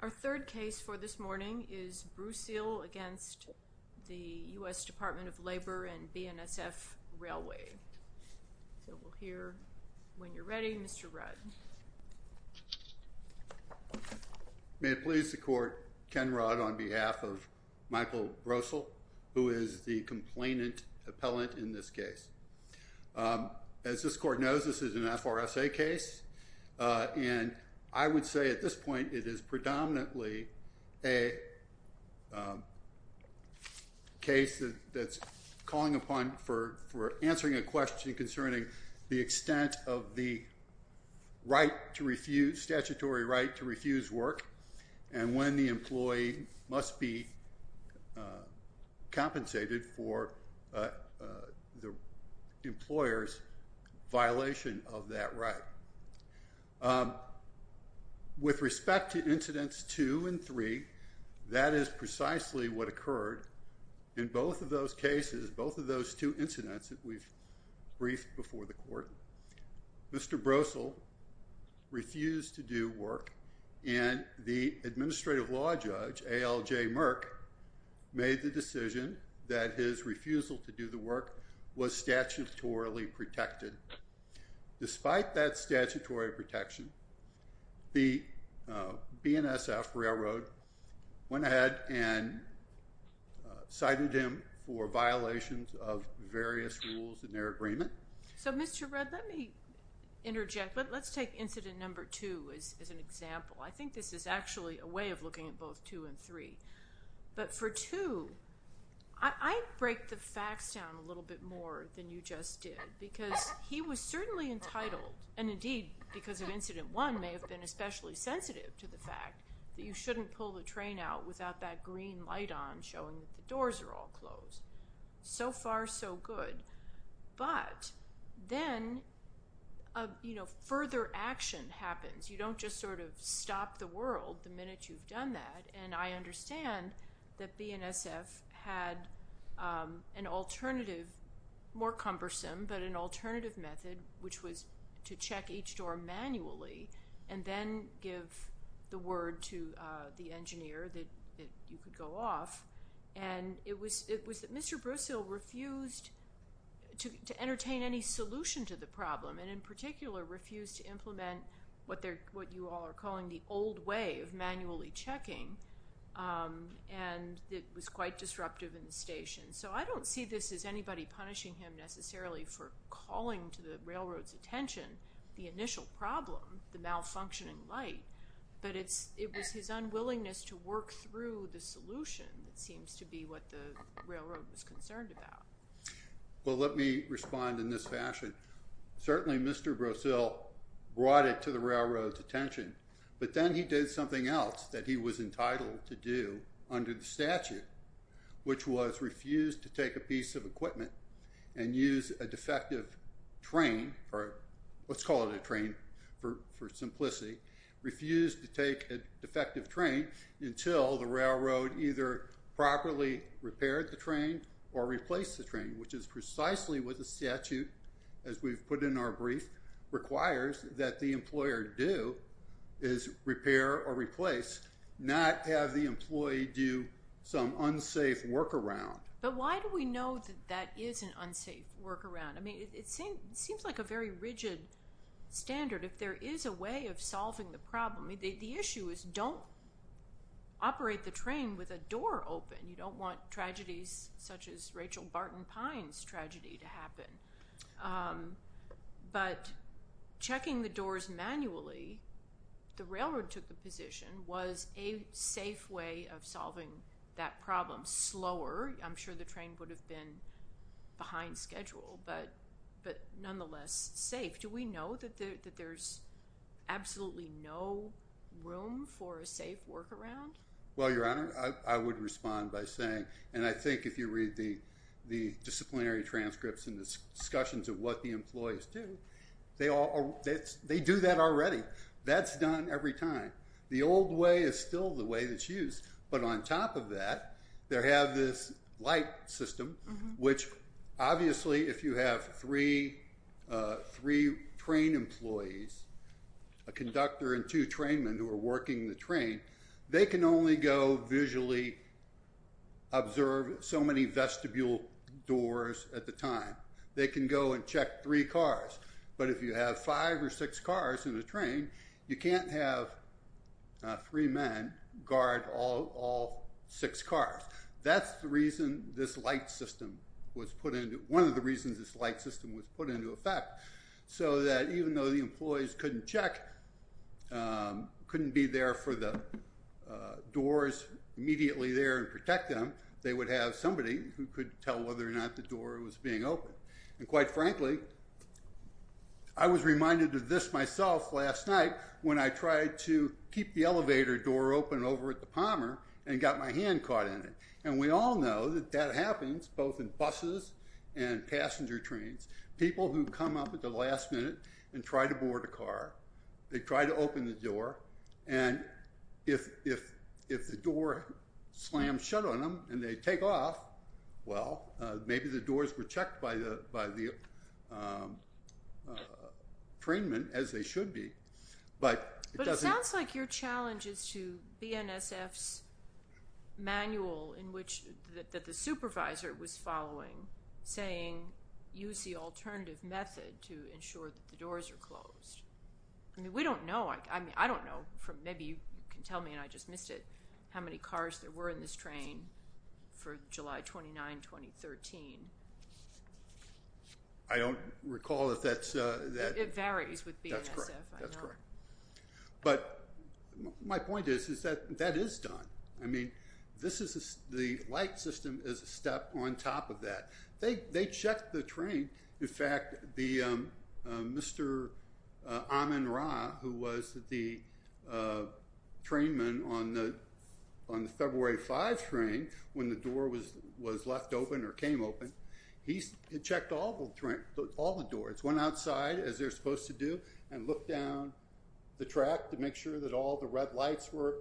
Our third case for this morning is Brousil against the U.S. Department of Labor and BNSF Railway. So we'll hear when you're ready Mr. Rudd. May it please the court, Ken Rudd on behalf of Michael Brousil who is the complainant appellant in this case. As this court knows this is an FRSA case and I would say at this point it is predominantly a case that's calling upon for answering a question concerning the extent of the statutory right to refuse work and when the employee must be compensated for the employer's violation of that right. With respect to incidents two and three that is precisely what occurred in both of those cases, both of those two incidents that we've briefed before the court. Mr. Brousil refused to do work and the administrative law judge ALJ Merck made the decision that his refusal to do the work was statutorily protected. Despite that statutory protection the BNSF Railroad went ahead and cited him for violations of various rules in their agreement. So Mr. Rudd let me interject but let's take incident number two as an example. I too I break the facts down a little bit more than you just did because he was certainly entitled and indeed because of incident one may have been especially sensitive to the fact that you shouldn't pull the train out without that green light on showing that the doors are all closed. So far so good but then a you know further action happens. You don't just sort of stop the world the minute you've done that and I understand that BNSF had an alternative more cumbersome but an alternative method which was to check each door manually and then give the word to the engineer that you could go off and it was it was that Mr. Brousil refused to entertain any solution to the problem and in particular refused to implement what they're what you all are calling the old way of manually checking and it was quite disruptive in the station. So I don't see this as anybody punishing him necessarily for calling to the railroad's attention the initial problem, the malfunctioning light, but it's it was his unwillingness to work through the solution that seems to be what the railroad was concerned about. Well let me respond in this fashion. Certainly Mr. Brousil brought it to the railroad's attention but then he did something else that he was entitled to do under the statute which was refused to take a piece of equipment and use a defective train or let's call it a train for simplicity refused to take a defective train until the railroad either properly repaired the train or replaced the train which is precisely what the statute as we've put in our brief requires that the employer do is repair or replace not have the employee do some unsafe workaround. But why do we know that that is an unsafe workaround? I mean it seems like a very rigid standard if there is a way of solving the problem. The issue is don't operate the train with a door open. You don't want tragedies such as Rachel Barton Pines tragedy to happen. But checking the doors manually, the railroad took the position was a safe way of solving that problem slower. I'm sure the train would have been behind schedule but nonetheless safe. Do we know that there's absolutely no room for a safe workaround? Well your honor, I would respond by saying and I think if you read the disciplinary transcripts and discussions of what the employees do, they do that already. That's done every time. The old way is still the way that's used but on top of that, they have this light system which obviously if you have three train employees, a conductor and two train men who are working the train, they can only go visually observe so many vestibule doors at the time. They can go and check three cars but if you have five or six cars in the train, you can't have three men guard all six cars. That's the reason this light system was put into one of the reasons this light system was put into effect so that even though the employees couldn't check, couldn't be there for the doors immediately there and protect them, they would have somebody who could tell whether or not the door was being open. And quite frankly, I was reminded of this myself last night when I tried to keep the elevator door open over at the Palmer and got my hand caught in it. And we all know that that happens both in buses and cars. They try to board a car. They try to open the door and if the door slams shut on them and they take off, well, maybe the doors were checked by the train men as they should be. But it sounds like your challenge is to BNSF's manual in which the supervisor was following saying use the alternative method to ensure that the doors are closed. I mean, we don't know. I mean, I don't know. Maybe you can tell me and I just missed it how many cars there were in this train for July 29, 2013. I don't recall if that's... It varies with BNSF. That's correct. But my point is that that is done. I mean, the light system is a step on top of that. They checked the train. In fact, Mr. Amin Ra, who was the train man on the February 5 train when the door was left open or came open, he checked all the doors. Went outside as they're supposed to do and looked down the track to make sure that all the red lights were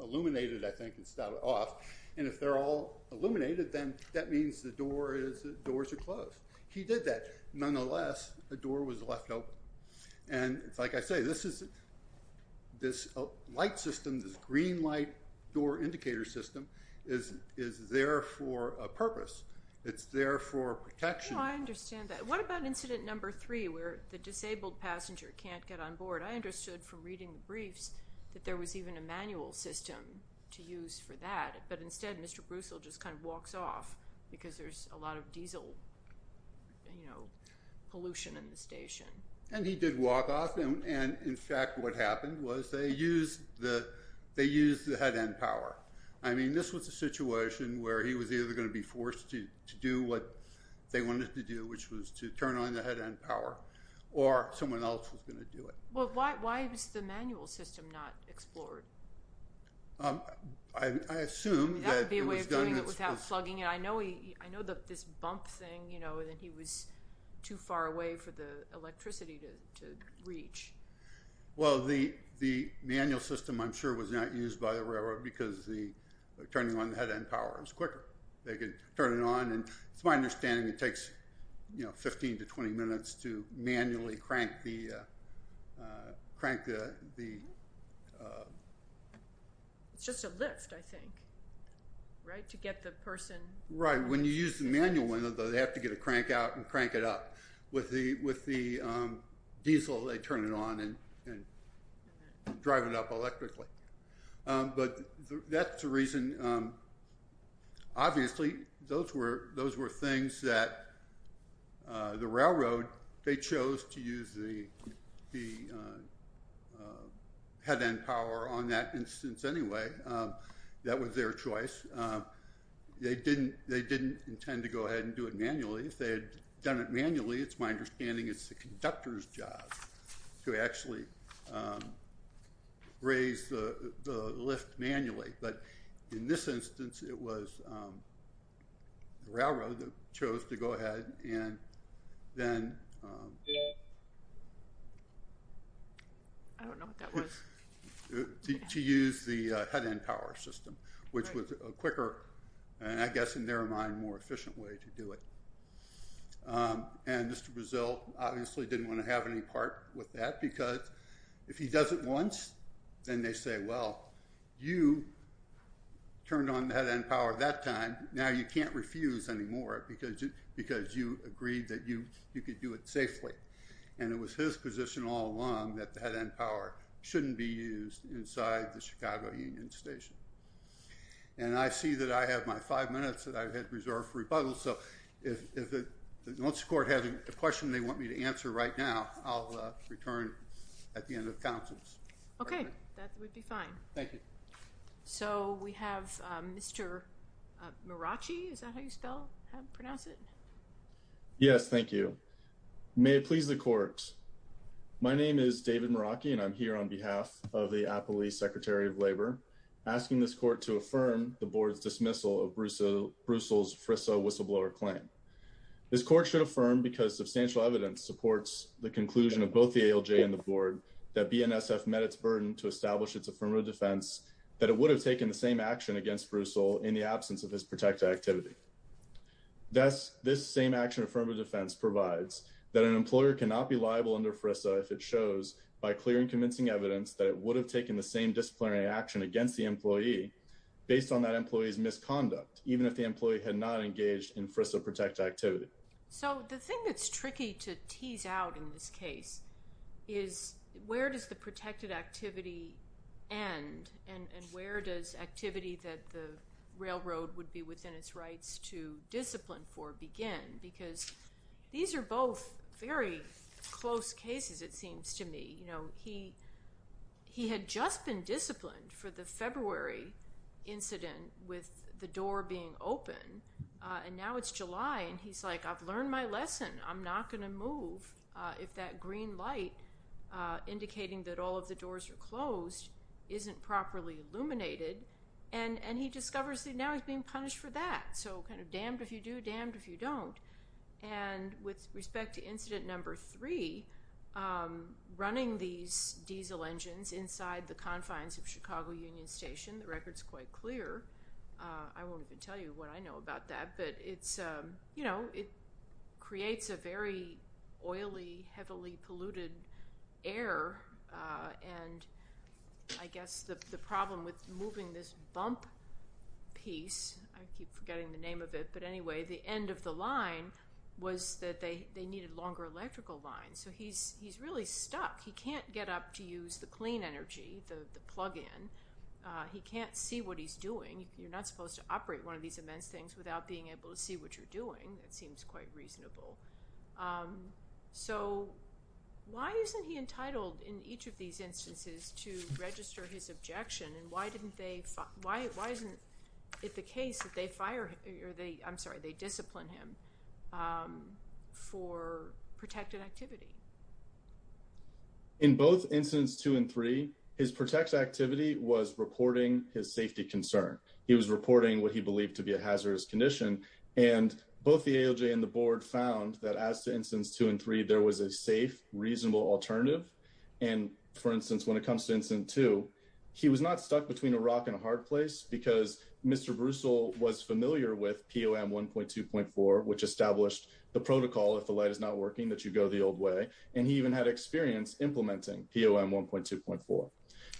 illuminated, I think, and started off. And if they're all illuminated, then that means the doors are closed. He did that. Nonetheless, the door was left open. And like I say, this light system, this green light door indicator system is there for a purpose. It's there for protection. I understand that. What about incident number three where the disabled passenger can't get on board? I understood from reading the briefs that there was even a manual system to use for that. But instead, Mr. Brussel just kind of walks off because there's a lot of diesel pollution in the station. And he did walk off. And in fact, what happened was they used the head end power. I mean, this was a situation where he was either going to be forced to do what they wanted to do, which was to turn on the head end power, or someone else was going to do it. Well, why is the manual system not explored? I assume that... That would be a way of doing it without plugging it. I know that this bump thing, you know, that he was too far away for the electricity to reach. Well, the manual system, I'm sure, was not used by the railroad because turning on the head end power is quicker. They can turn it on. And it's my understanding it takes, you know, 15 to 20 minutes to manually crank the... It's just a lift, I think, right, to get the person... Right. When you use the manual one, though, they have to get a crank out and crank it up. With the diesel, they turn it on and drive it up electrically. But that's the reason obviously those were things that the railroad, they chose to use the head end power on that instance anyway. That was their choice. They didn't intend to go ahead and do it manually. If they had done it manually, it's my understanding it's the conductor's job to actually raise the lift manually. But in this instance, it was the railroad that chose to go ahead and then... I don't know what that was. To use the head end power system, which was a quicker and, I guess, in their mind, more efficient way to do it. And Mr. Brazil obviously didn't want to have any part with that. Because if he does it once, then they say, well, you turned on the head end power that time. Now you can't refuse anymore because you agreed that you could do it safely. And it was his position all along that the head end power shouldn't be used inside the Chicago Union Station. And I see that I have my five minutes that I've had reserved for rebuttal. So, once the court has a question they want me to answer right now, I'll return at the end of counsel's. Okay. That would be fine. Thank you. So, we have Mr. Mirachi. Is that how you spell, pronounce it? Yes. Thank you. May it please the court. My name is David Mirachi and I'm here on behalf of the Appley Secretary of Labor asking this court to affirm the board's dismissal of Brussels' FRISA whistleblower claim. This court should affirm because substantial evidence supports the conclusion of both the ALJ and the board that BNSF met its burden to establish its affirmative defense that it would have taken the same action against Brussels in the absence of his protected activity. Thus, this same action affirmative defense provides that an employer cannot be liable under FRISA if it shows by clear and convincing evidence that it would have taken the same disciplinary action against the employee based on that employee's misconduct, even if the employee had not engaged in FRISA protected activity. So, the thing that's tricky to tease out in this case is where does the protected activity end and where does activity that the railroad would be within its rights to discipline for begin because these are both very close cases it seems to me. You know, he had just been disciplined for the February incident with the door being open and now it's July and he's like, I've learned my lesson. I'm not going to move if that green light indicating that all of the doors are closed isn't properly illuminated and he discovers that now he's being punished for that. So, kind of damned if you do, damned if you don't. And with respect to incident number three, running these diesel engines inside the confines of I won't even tell you what I know about that, but it creates a very oily, heavily polluted air and I guess the problem with moving this bump piece, I keep forgetting the name of it, but anyway, the end of the line was that they needed longer electrical lines. So, he's really stuck. He can't get up to use the clean energy, the plug-in. He can't see what he's doing. You're not supposed to operate one of these immense things without being able to see what you're doing. That seems quite reasonable. So, why isn't he entitled in each of these instances to register his objection and why didn't they, why isn't it the case that they fire or they, I'm sorry, they discipline him for protected activity? In both incidents two and three, his protected activity was reporting his safety concern. He was reporting what he believed to be a hazardous condition and both the ALJ and the board found that as to instance two and three, there was a safe, reasonable alternative. And for instance, when it comes to incident two, he was not stuck between a rock and a hard place because Mr. Brussel was familiar with POM 1.2.4, which established the protocol if the light is not working that you go the old way. And he even had experience implementing POM 1.2.4.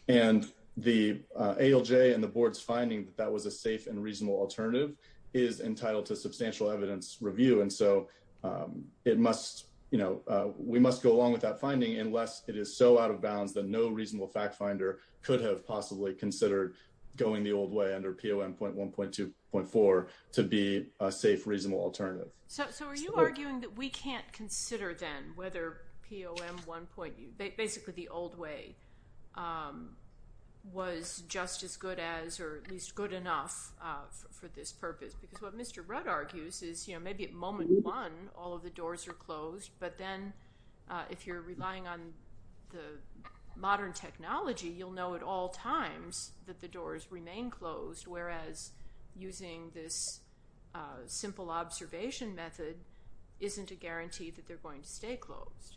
And the ALJ and the board's finding that that was a safe and reasonable alternative is entitled to substantial evidence review. And so, it must, you know, we must go along with that finding unless it is so out of bounds that no reasonable fact finder could have possibly considered going the old way under POM 1.2.4 to be a safe, reasonable alternative. So, are you arguing that we can't consider then whether POM 1.2, basically the old way, was just as good as or at least good enough for this purpose? Because what Mr. Rudd argues is, you know, maybe at moment one all of the doors are closed, but then if you're relying on the modern technology, you'll know at all times that the doors remain closed, whereas using this simple observation method isn't a guarantee that they're going to stay closed.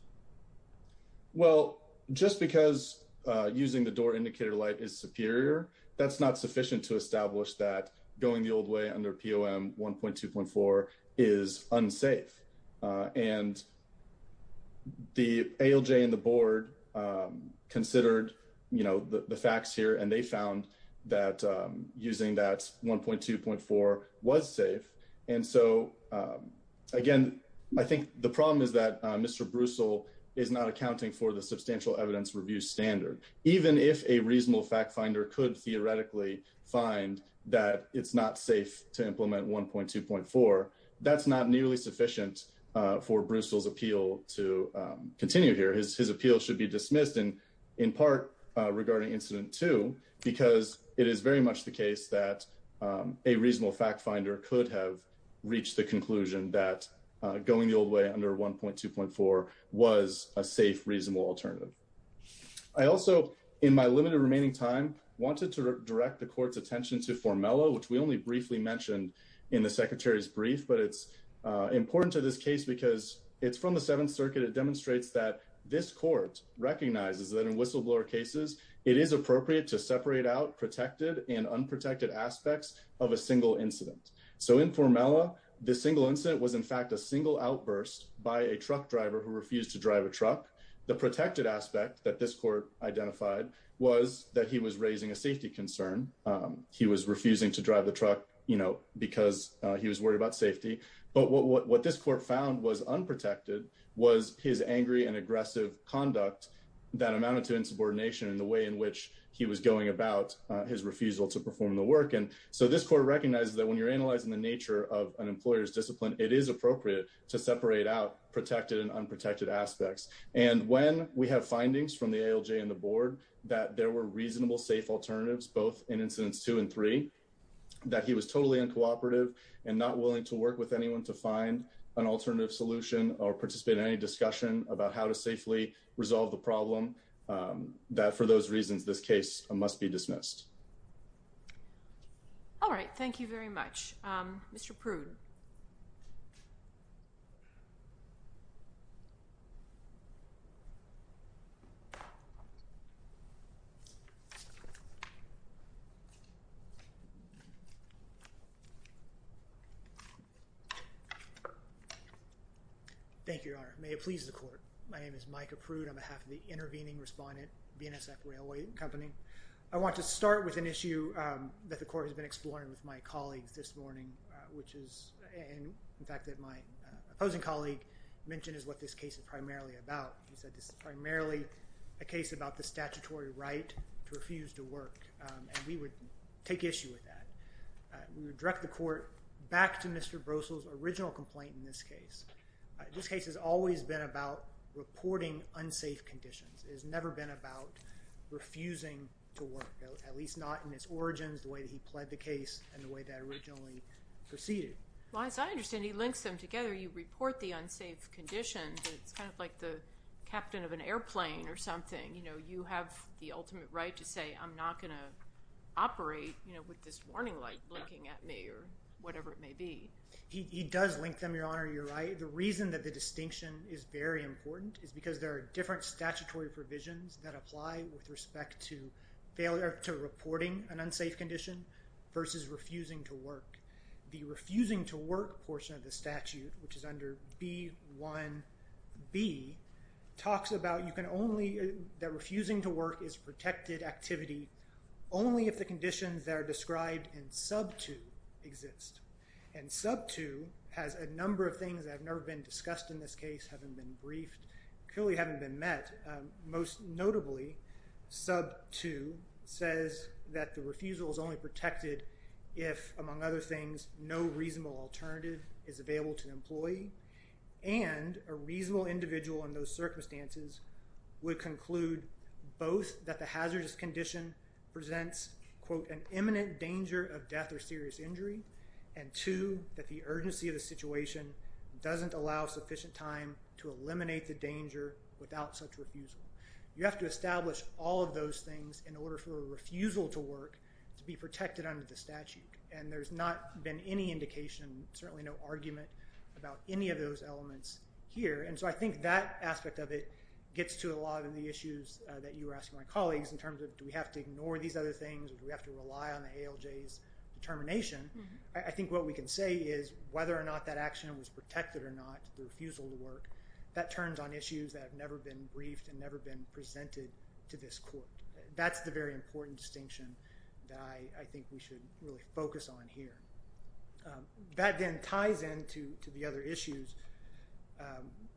Well, just because using the door indicator light is superior, that's not sufficient to establish that going the old way under POM 1.2.4 is unsafe. And the ALJ and the board considered, you know, the facts here and they found that using that 1.2.4 was safe. And so, again, I think the problem is that Mr. Brussel is not accounting for the substantial evidence review standard. Even if a reasonable fact finder could theoretically find that it's not safe to implement 1.2.4, that's not nearly sufficient for Brussel's appeal to continue here. His appeal should be dismissed and in part regarding incident two, because it is very much the case that a reasonable fact finder could have reached the conclusion that going the old way under 1.2.4 was a safe, reasonable alternative. I also, in my limited remaining time, wanted to direct the court's attention to Formello, which we only briefly mentioned in the secretary's brief, but it's important to this case because it's from the Seventh Circuit. It demonstrates that this court recognizes that in whistleblower cases, it is appropriate to separate out protected and unprotected aspects of a single incident. So in Formello, the single incident was in fact a single outburst by a truck driver who refused to drive a truck. The protected aspect that this court identified was that he was raising a safety concern. He was refusing to drive the truck, because he was worried about safety. But what this court found was unprotected was his angry and aggressive conduct that amounted to insubordination in the way in which he was going about his refusal to perform the work. And so this court recognizes that when you're analyzing the nature of an employer's discipline, it is appropriate to separate out protected and unprotected aspects. And when we have findings from the ALJ and the board that there were totally uncooperative and not willing to work with anyone to find an alternative solution or participate in any discussion about how to safely resolve the problem, that for those reasons, this case must be dismissed. All right. Thank you very much, Mr. Prude. Thank you, Your Honor. May it please the court. My name is Mike Prude on behalf of the intervening respondent, BNSF Railway and Company. I want to start with an issue that the court has been exploring with my colleagues this morning, which is in fact that my opposing colleague mentioned is what this case is primarily about. He said this is primarily a case about the statutory right to refuse to work. And we would take issue with that. We would direct the court back to Mr. Brossel's original complaint in this case. This case has always been about reporting unsafe conditions. It has never been about refusing to work, at least not in its origins, the way that he pled the case, and the way that it originally proceeded. Well, as I understand, he links them together. You report the unsafe conditions. It's kind of like the captain of an airplane or something. You have the ultimate right to say I'm not going to operate with this warning light blinking at me or whatever it may be. He does link them, Your Honor. You're right. The reason that the distinction is very important is because there are different statutory provisions that apply with respect to reporting an unsafe condition versus refusing to work. The refusing to work portion of the statute, which is under B1b, talks about that refusing to work is protected activity only if the conditions that are described in sub 2 exist. And sub 2 has a number of things that have never been discussed in this case, haven't been briefed, clearly haven't been met. Most notably, sub 2 says that the refusal is only protected if, among other things, no reasonable alternative is available to an employee and a reasonable individual in those circumstances would conclude both that the hazardous condition presents, quote, an imminent danger of death or serious injury, and two, that the urgency of the situation doesn't allow sufficient time to eliminate the danger without such refusal. You have to establish all of those things in order for a refusal to work to be protected under the statute. And there's not been any indication, certainly no argument, about any of those elements here. And so I think that aspect of it gets to a lot of the issues that you were asking my colleagues in terms of do we have to ignore these other things? Do we have to rely on the ALJ's determination? I think what we can say is whether or not that action was protected or not, the refusal to work, that turns on issues that have never been briefed and never been presented to this court. That's the very important distinction that I think we should really focus on here. That then ties in to the other issues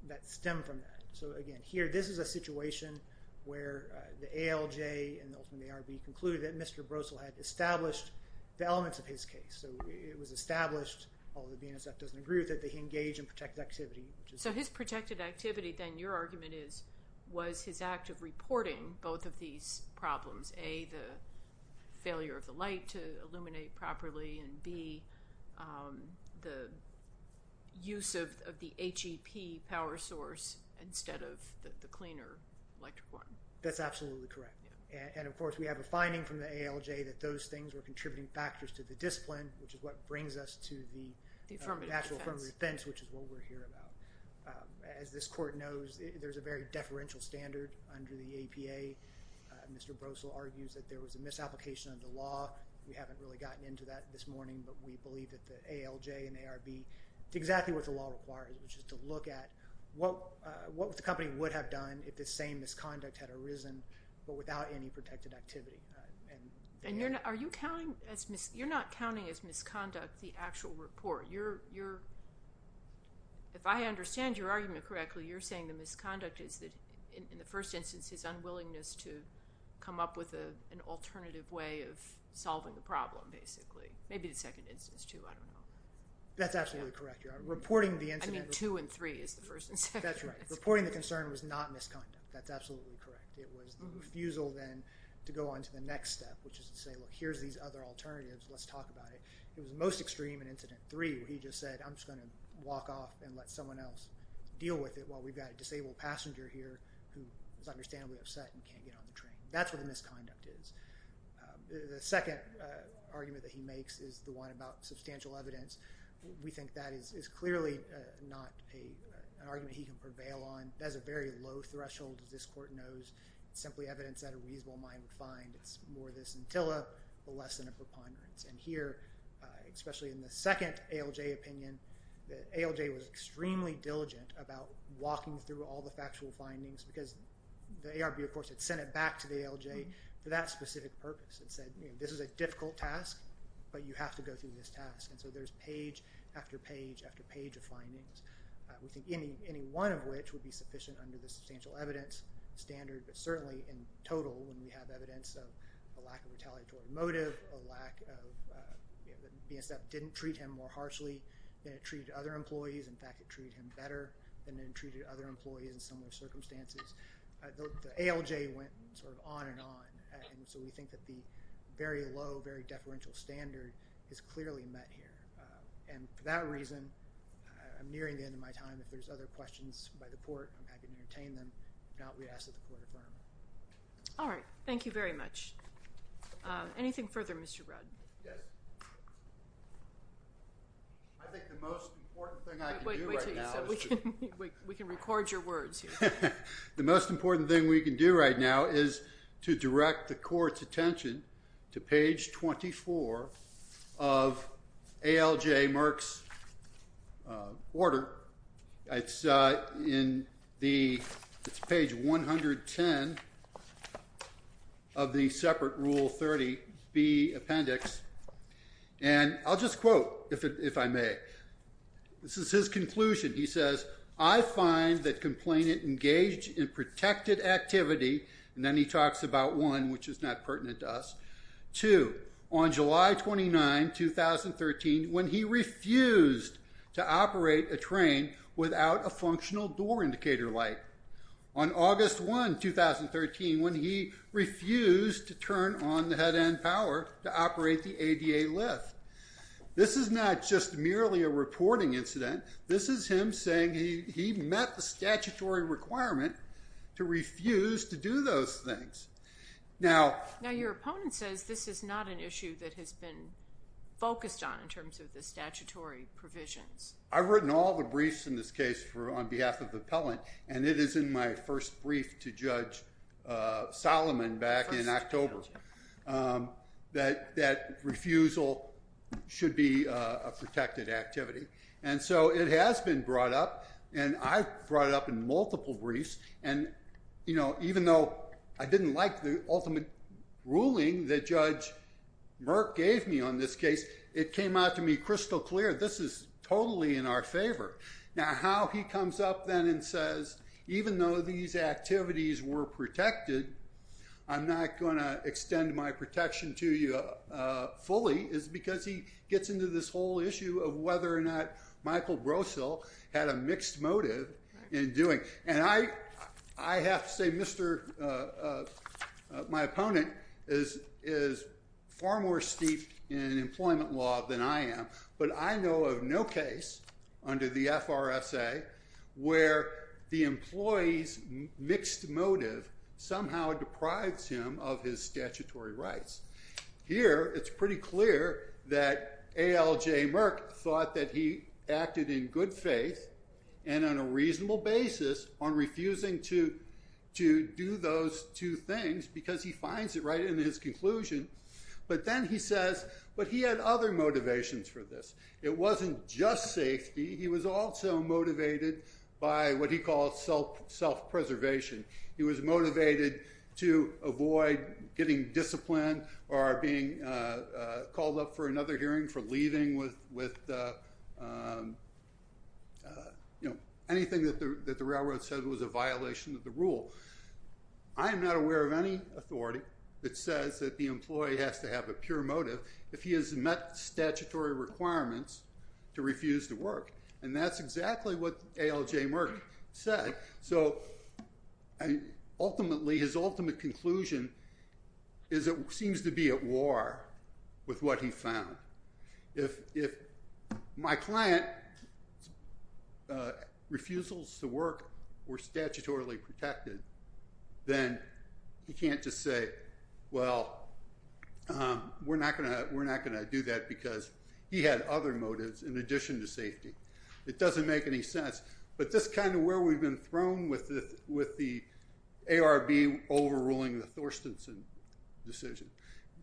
that stem from that. So again, here, this is a situation where the ALJ and ultimately ARB concluded that Mr. Brossel had established the elements of his case. So it was established, although the BNSF doesn't agree with it, that he engaged in protected activity. So his protected activity then, your argument is, was his act of reporting both of these problems. A, the failure of the light to illuminate properly, and B, the use of the HEP power source instead of the cleaner electric one. That's absolutely correct. And of course we have a finding from the ALJ that those things were contributing factors to the discipline, which is what brings us to the actual affirmative defense, which is what we're here about. As this court knows, there's a very deferential standard under the APA. Mr. Brossel argues that there was a misapplication of the law. We haven't really gotten into that this morning, but we believe that the ALJ and ARB did exactly what the law requires, which is to look at what the company would have done if the same misconduct had arisen, but without any protected activity. And you're not, are you counting as, you're not counting as misconduct the actual report. You're, you're, if I understand your argument correctly, you're saying the misconduct is that in the first instance his unwillingness to come up with an alternative way of solving the problem, basically. Maybe the second instance too, I don't know. That's absolutely correct. Reporting the incident. I mean two and three is the first and second. That's right. Reporting the concern was not misconduct. That's absolutely correct. It was the refusal then to go on to the next step, which is to say, look, here's these other alternatives. Let's talk about it. It was the most extreme in incident three where he just said, I'm just going to walk off and let someone else deal with it while we've got a disabled passenger here who is understandably upset and can't get on the train. That's what the misconduct is. The second argument that he makes is the one about substantial evidence. We think that is, is clearly not a, an argument he can prevail on. That is a very low threshold as this court knows. It's simply evidence that a reasonable mind would find. It's more the scintilla, but less than a preponderance. And here, especially in the second ALJ opinion, the ALJ was extremely diligent about walking through all the factual findings because the ARB of course had sent it back to the ALJ for that specific purpose. It said, you know, this is a difficult task, but you have to go through this task. And so there's page after page after page of findings. We think any, any one of which would be sufficient under the substantial evidence standard, but certainly in total when we have evidence of a lack of retaliatory motive, a lack of, you know, the BNCF didn't treat him more harshly than it treated other employees. In fact, it treated him better than it treated other employees in similar circumstances. The ALJ went and sort of on and on. And so we think that the very low, very deferential standard is clearly met here. And for that reason, I'm nearing the end of my time. If there's other questions by the court, I'm happy to entertain them. If not, we ask that the court affirm. All right. Thank you very much. Anything further, Mr. Rudd? Yes. I think the most important thing I can do right now is to- Wait, wait till you said, we can, we can record your words here. The most important thing we can do right now is to direct the court's attention to page 24 of ALJ Merck's order. It's in the, it's page 110 of the separate Rule 30B appendix. And I'll just quote if it, if I may. This is his conclusion. He says, I find that complainant engaged in protected activity. And then he talks about one, which is not pertinent to us. Two, on July 29, 2013, when he refused to operate a train without a functional door indicator light. On August 1, 2013, when he refused to turn on the head end power to operate the ADA lift. This is not just merely a reporting incident. This is him saying he, he met the statutory requirement to refuse to do those things. Now- Now your opponent says this is not an issue that has been focused on in terms of the statutory provisions. I've written all the briefs in this case for, on behalf of the appellant, and it is in my first brief to Judge Solomon back in October that, that refusal should be a protected activity. And so it has been brought up and I've brought it up in multiple briefs. And, you know, even though I didn't like the ultimate ruling that Judge Merck gave me on this case, it came out to me crystal clear, this is totally in our favor. Now how he comes up then and says, even though these activities were protected, I'm not going to extend my protection to you fully, is because he gets into this whole issue of whether or not Michael Brosell had a mixed motive in doing. And I, I have to say, Mr., my opponent is, is far more steep in employment law than I am. But I know of no case under the FRSA where the employee's statutory rights. Here, it's pretty clear that ALJ Merck thought that he acted in good faith and on a reasonable basis on refusing to, to do those two things because he finds it right in his conclusion. But then he says, but he had other motivations for this. It wasn't just safety. He was also motivated by what he calls self, self-preservation. He was motivated to avoid getting disciplined or being called up for another hearing for leaving with, with, you know, anything that the, that the railroad said was a violation of the rule. I am not aware of any authority that says that the employee has to have a pure motive if he has met statutory requirements to refuse to work. And that's exactly what ALJ Merck said. So I, ultimately, his ultimate conclusion is it seems to be at war with what he found. If, if my client refusals to work were statutorily protected, then he can't just say, well, we're not gonna, we're not gonna do that because he had other motives in addition to safety. It doesn't make any sense, but this kind of where we've been thrown with the, with the ARB overruling the Thorstenson decision,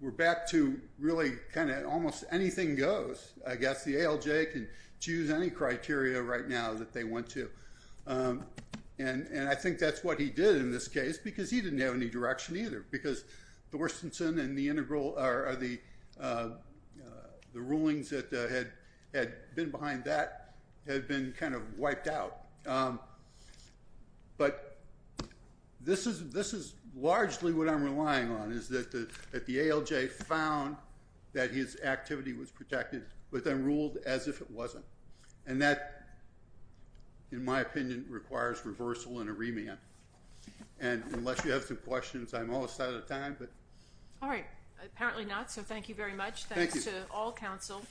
we're back to really kind of almost anything goes. I guess the ALJ can choose any criteria right now that they want to. And, and I think that's what he did in this case because he didn't have any direction either because Thorstenson and the integral or the, the rulings that had, had been behind that had been kind of wiped out. But this is, this is largely what I'm relying on is that the, that the ALJ found that his activity was protected, but then ruled as if it wasn't. And that, in my opinion, requires reversal and a remand. And unless you have some questions, I'm almost out of time, but. All right. Apparently not. So thank you very much. Thank you. Thanks to all counsel.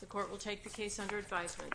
The court will take the case under advisement.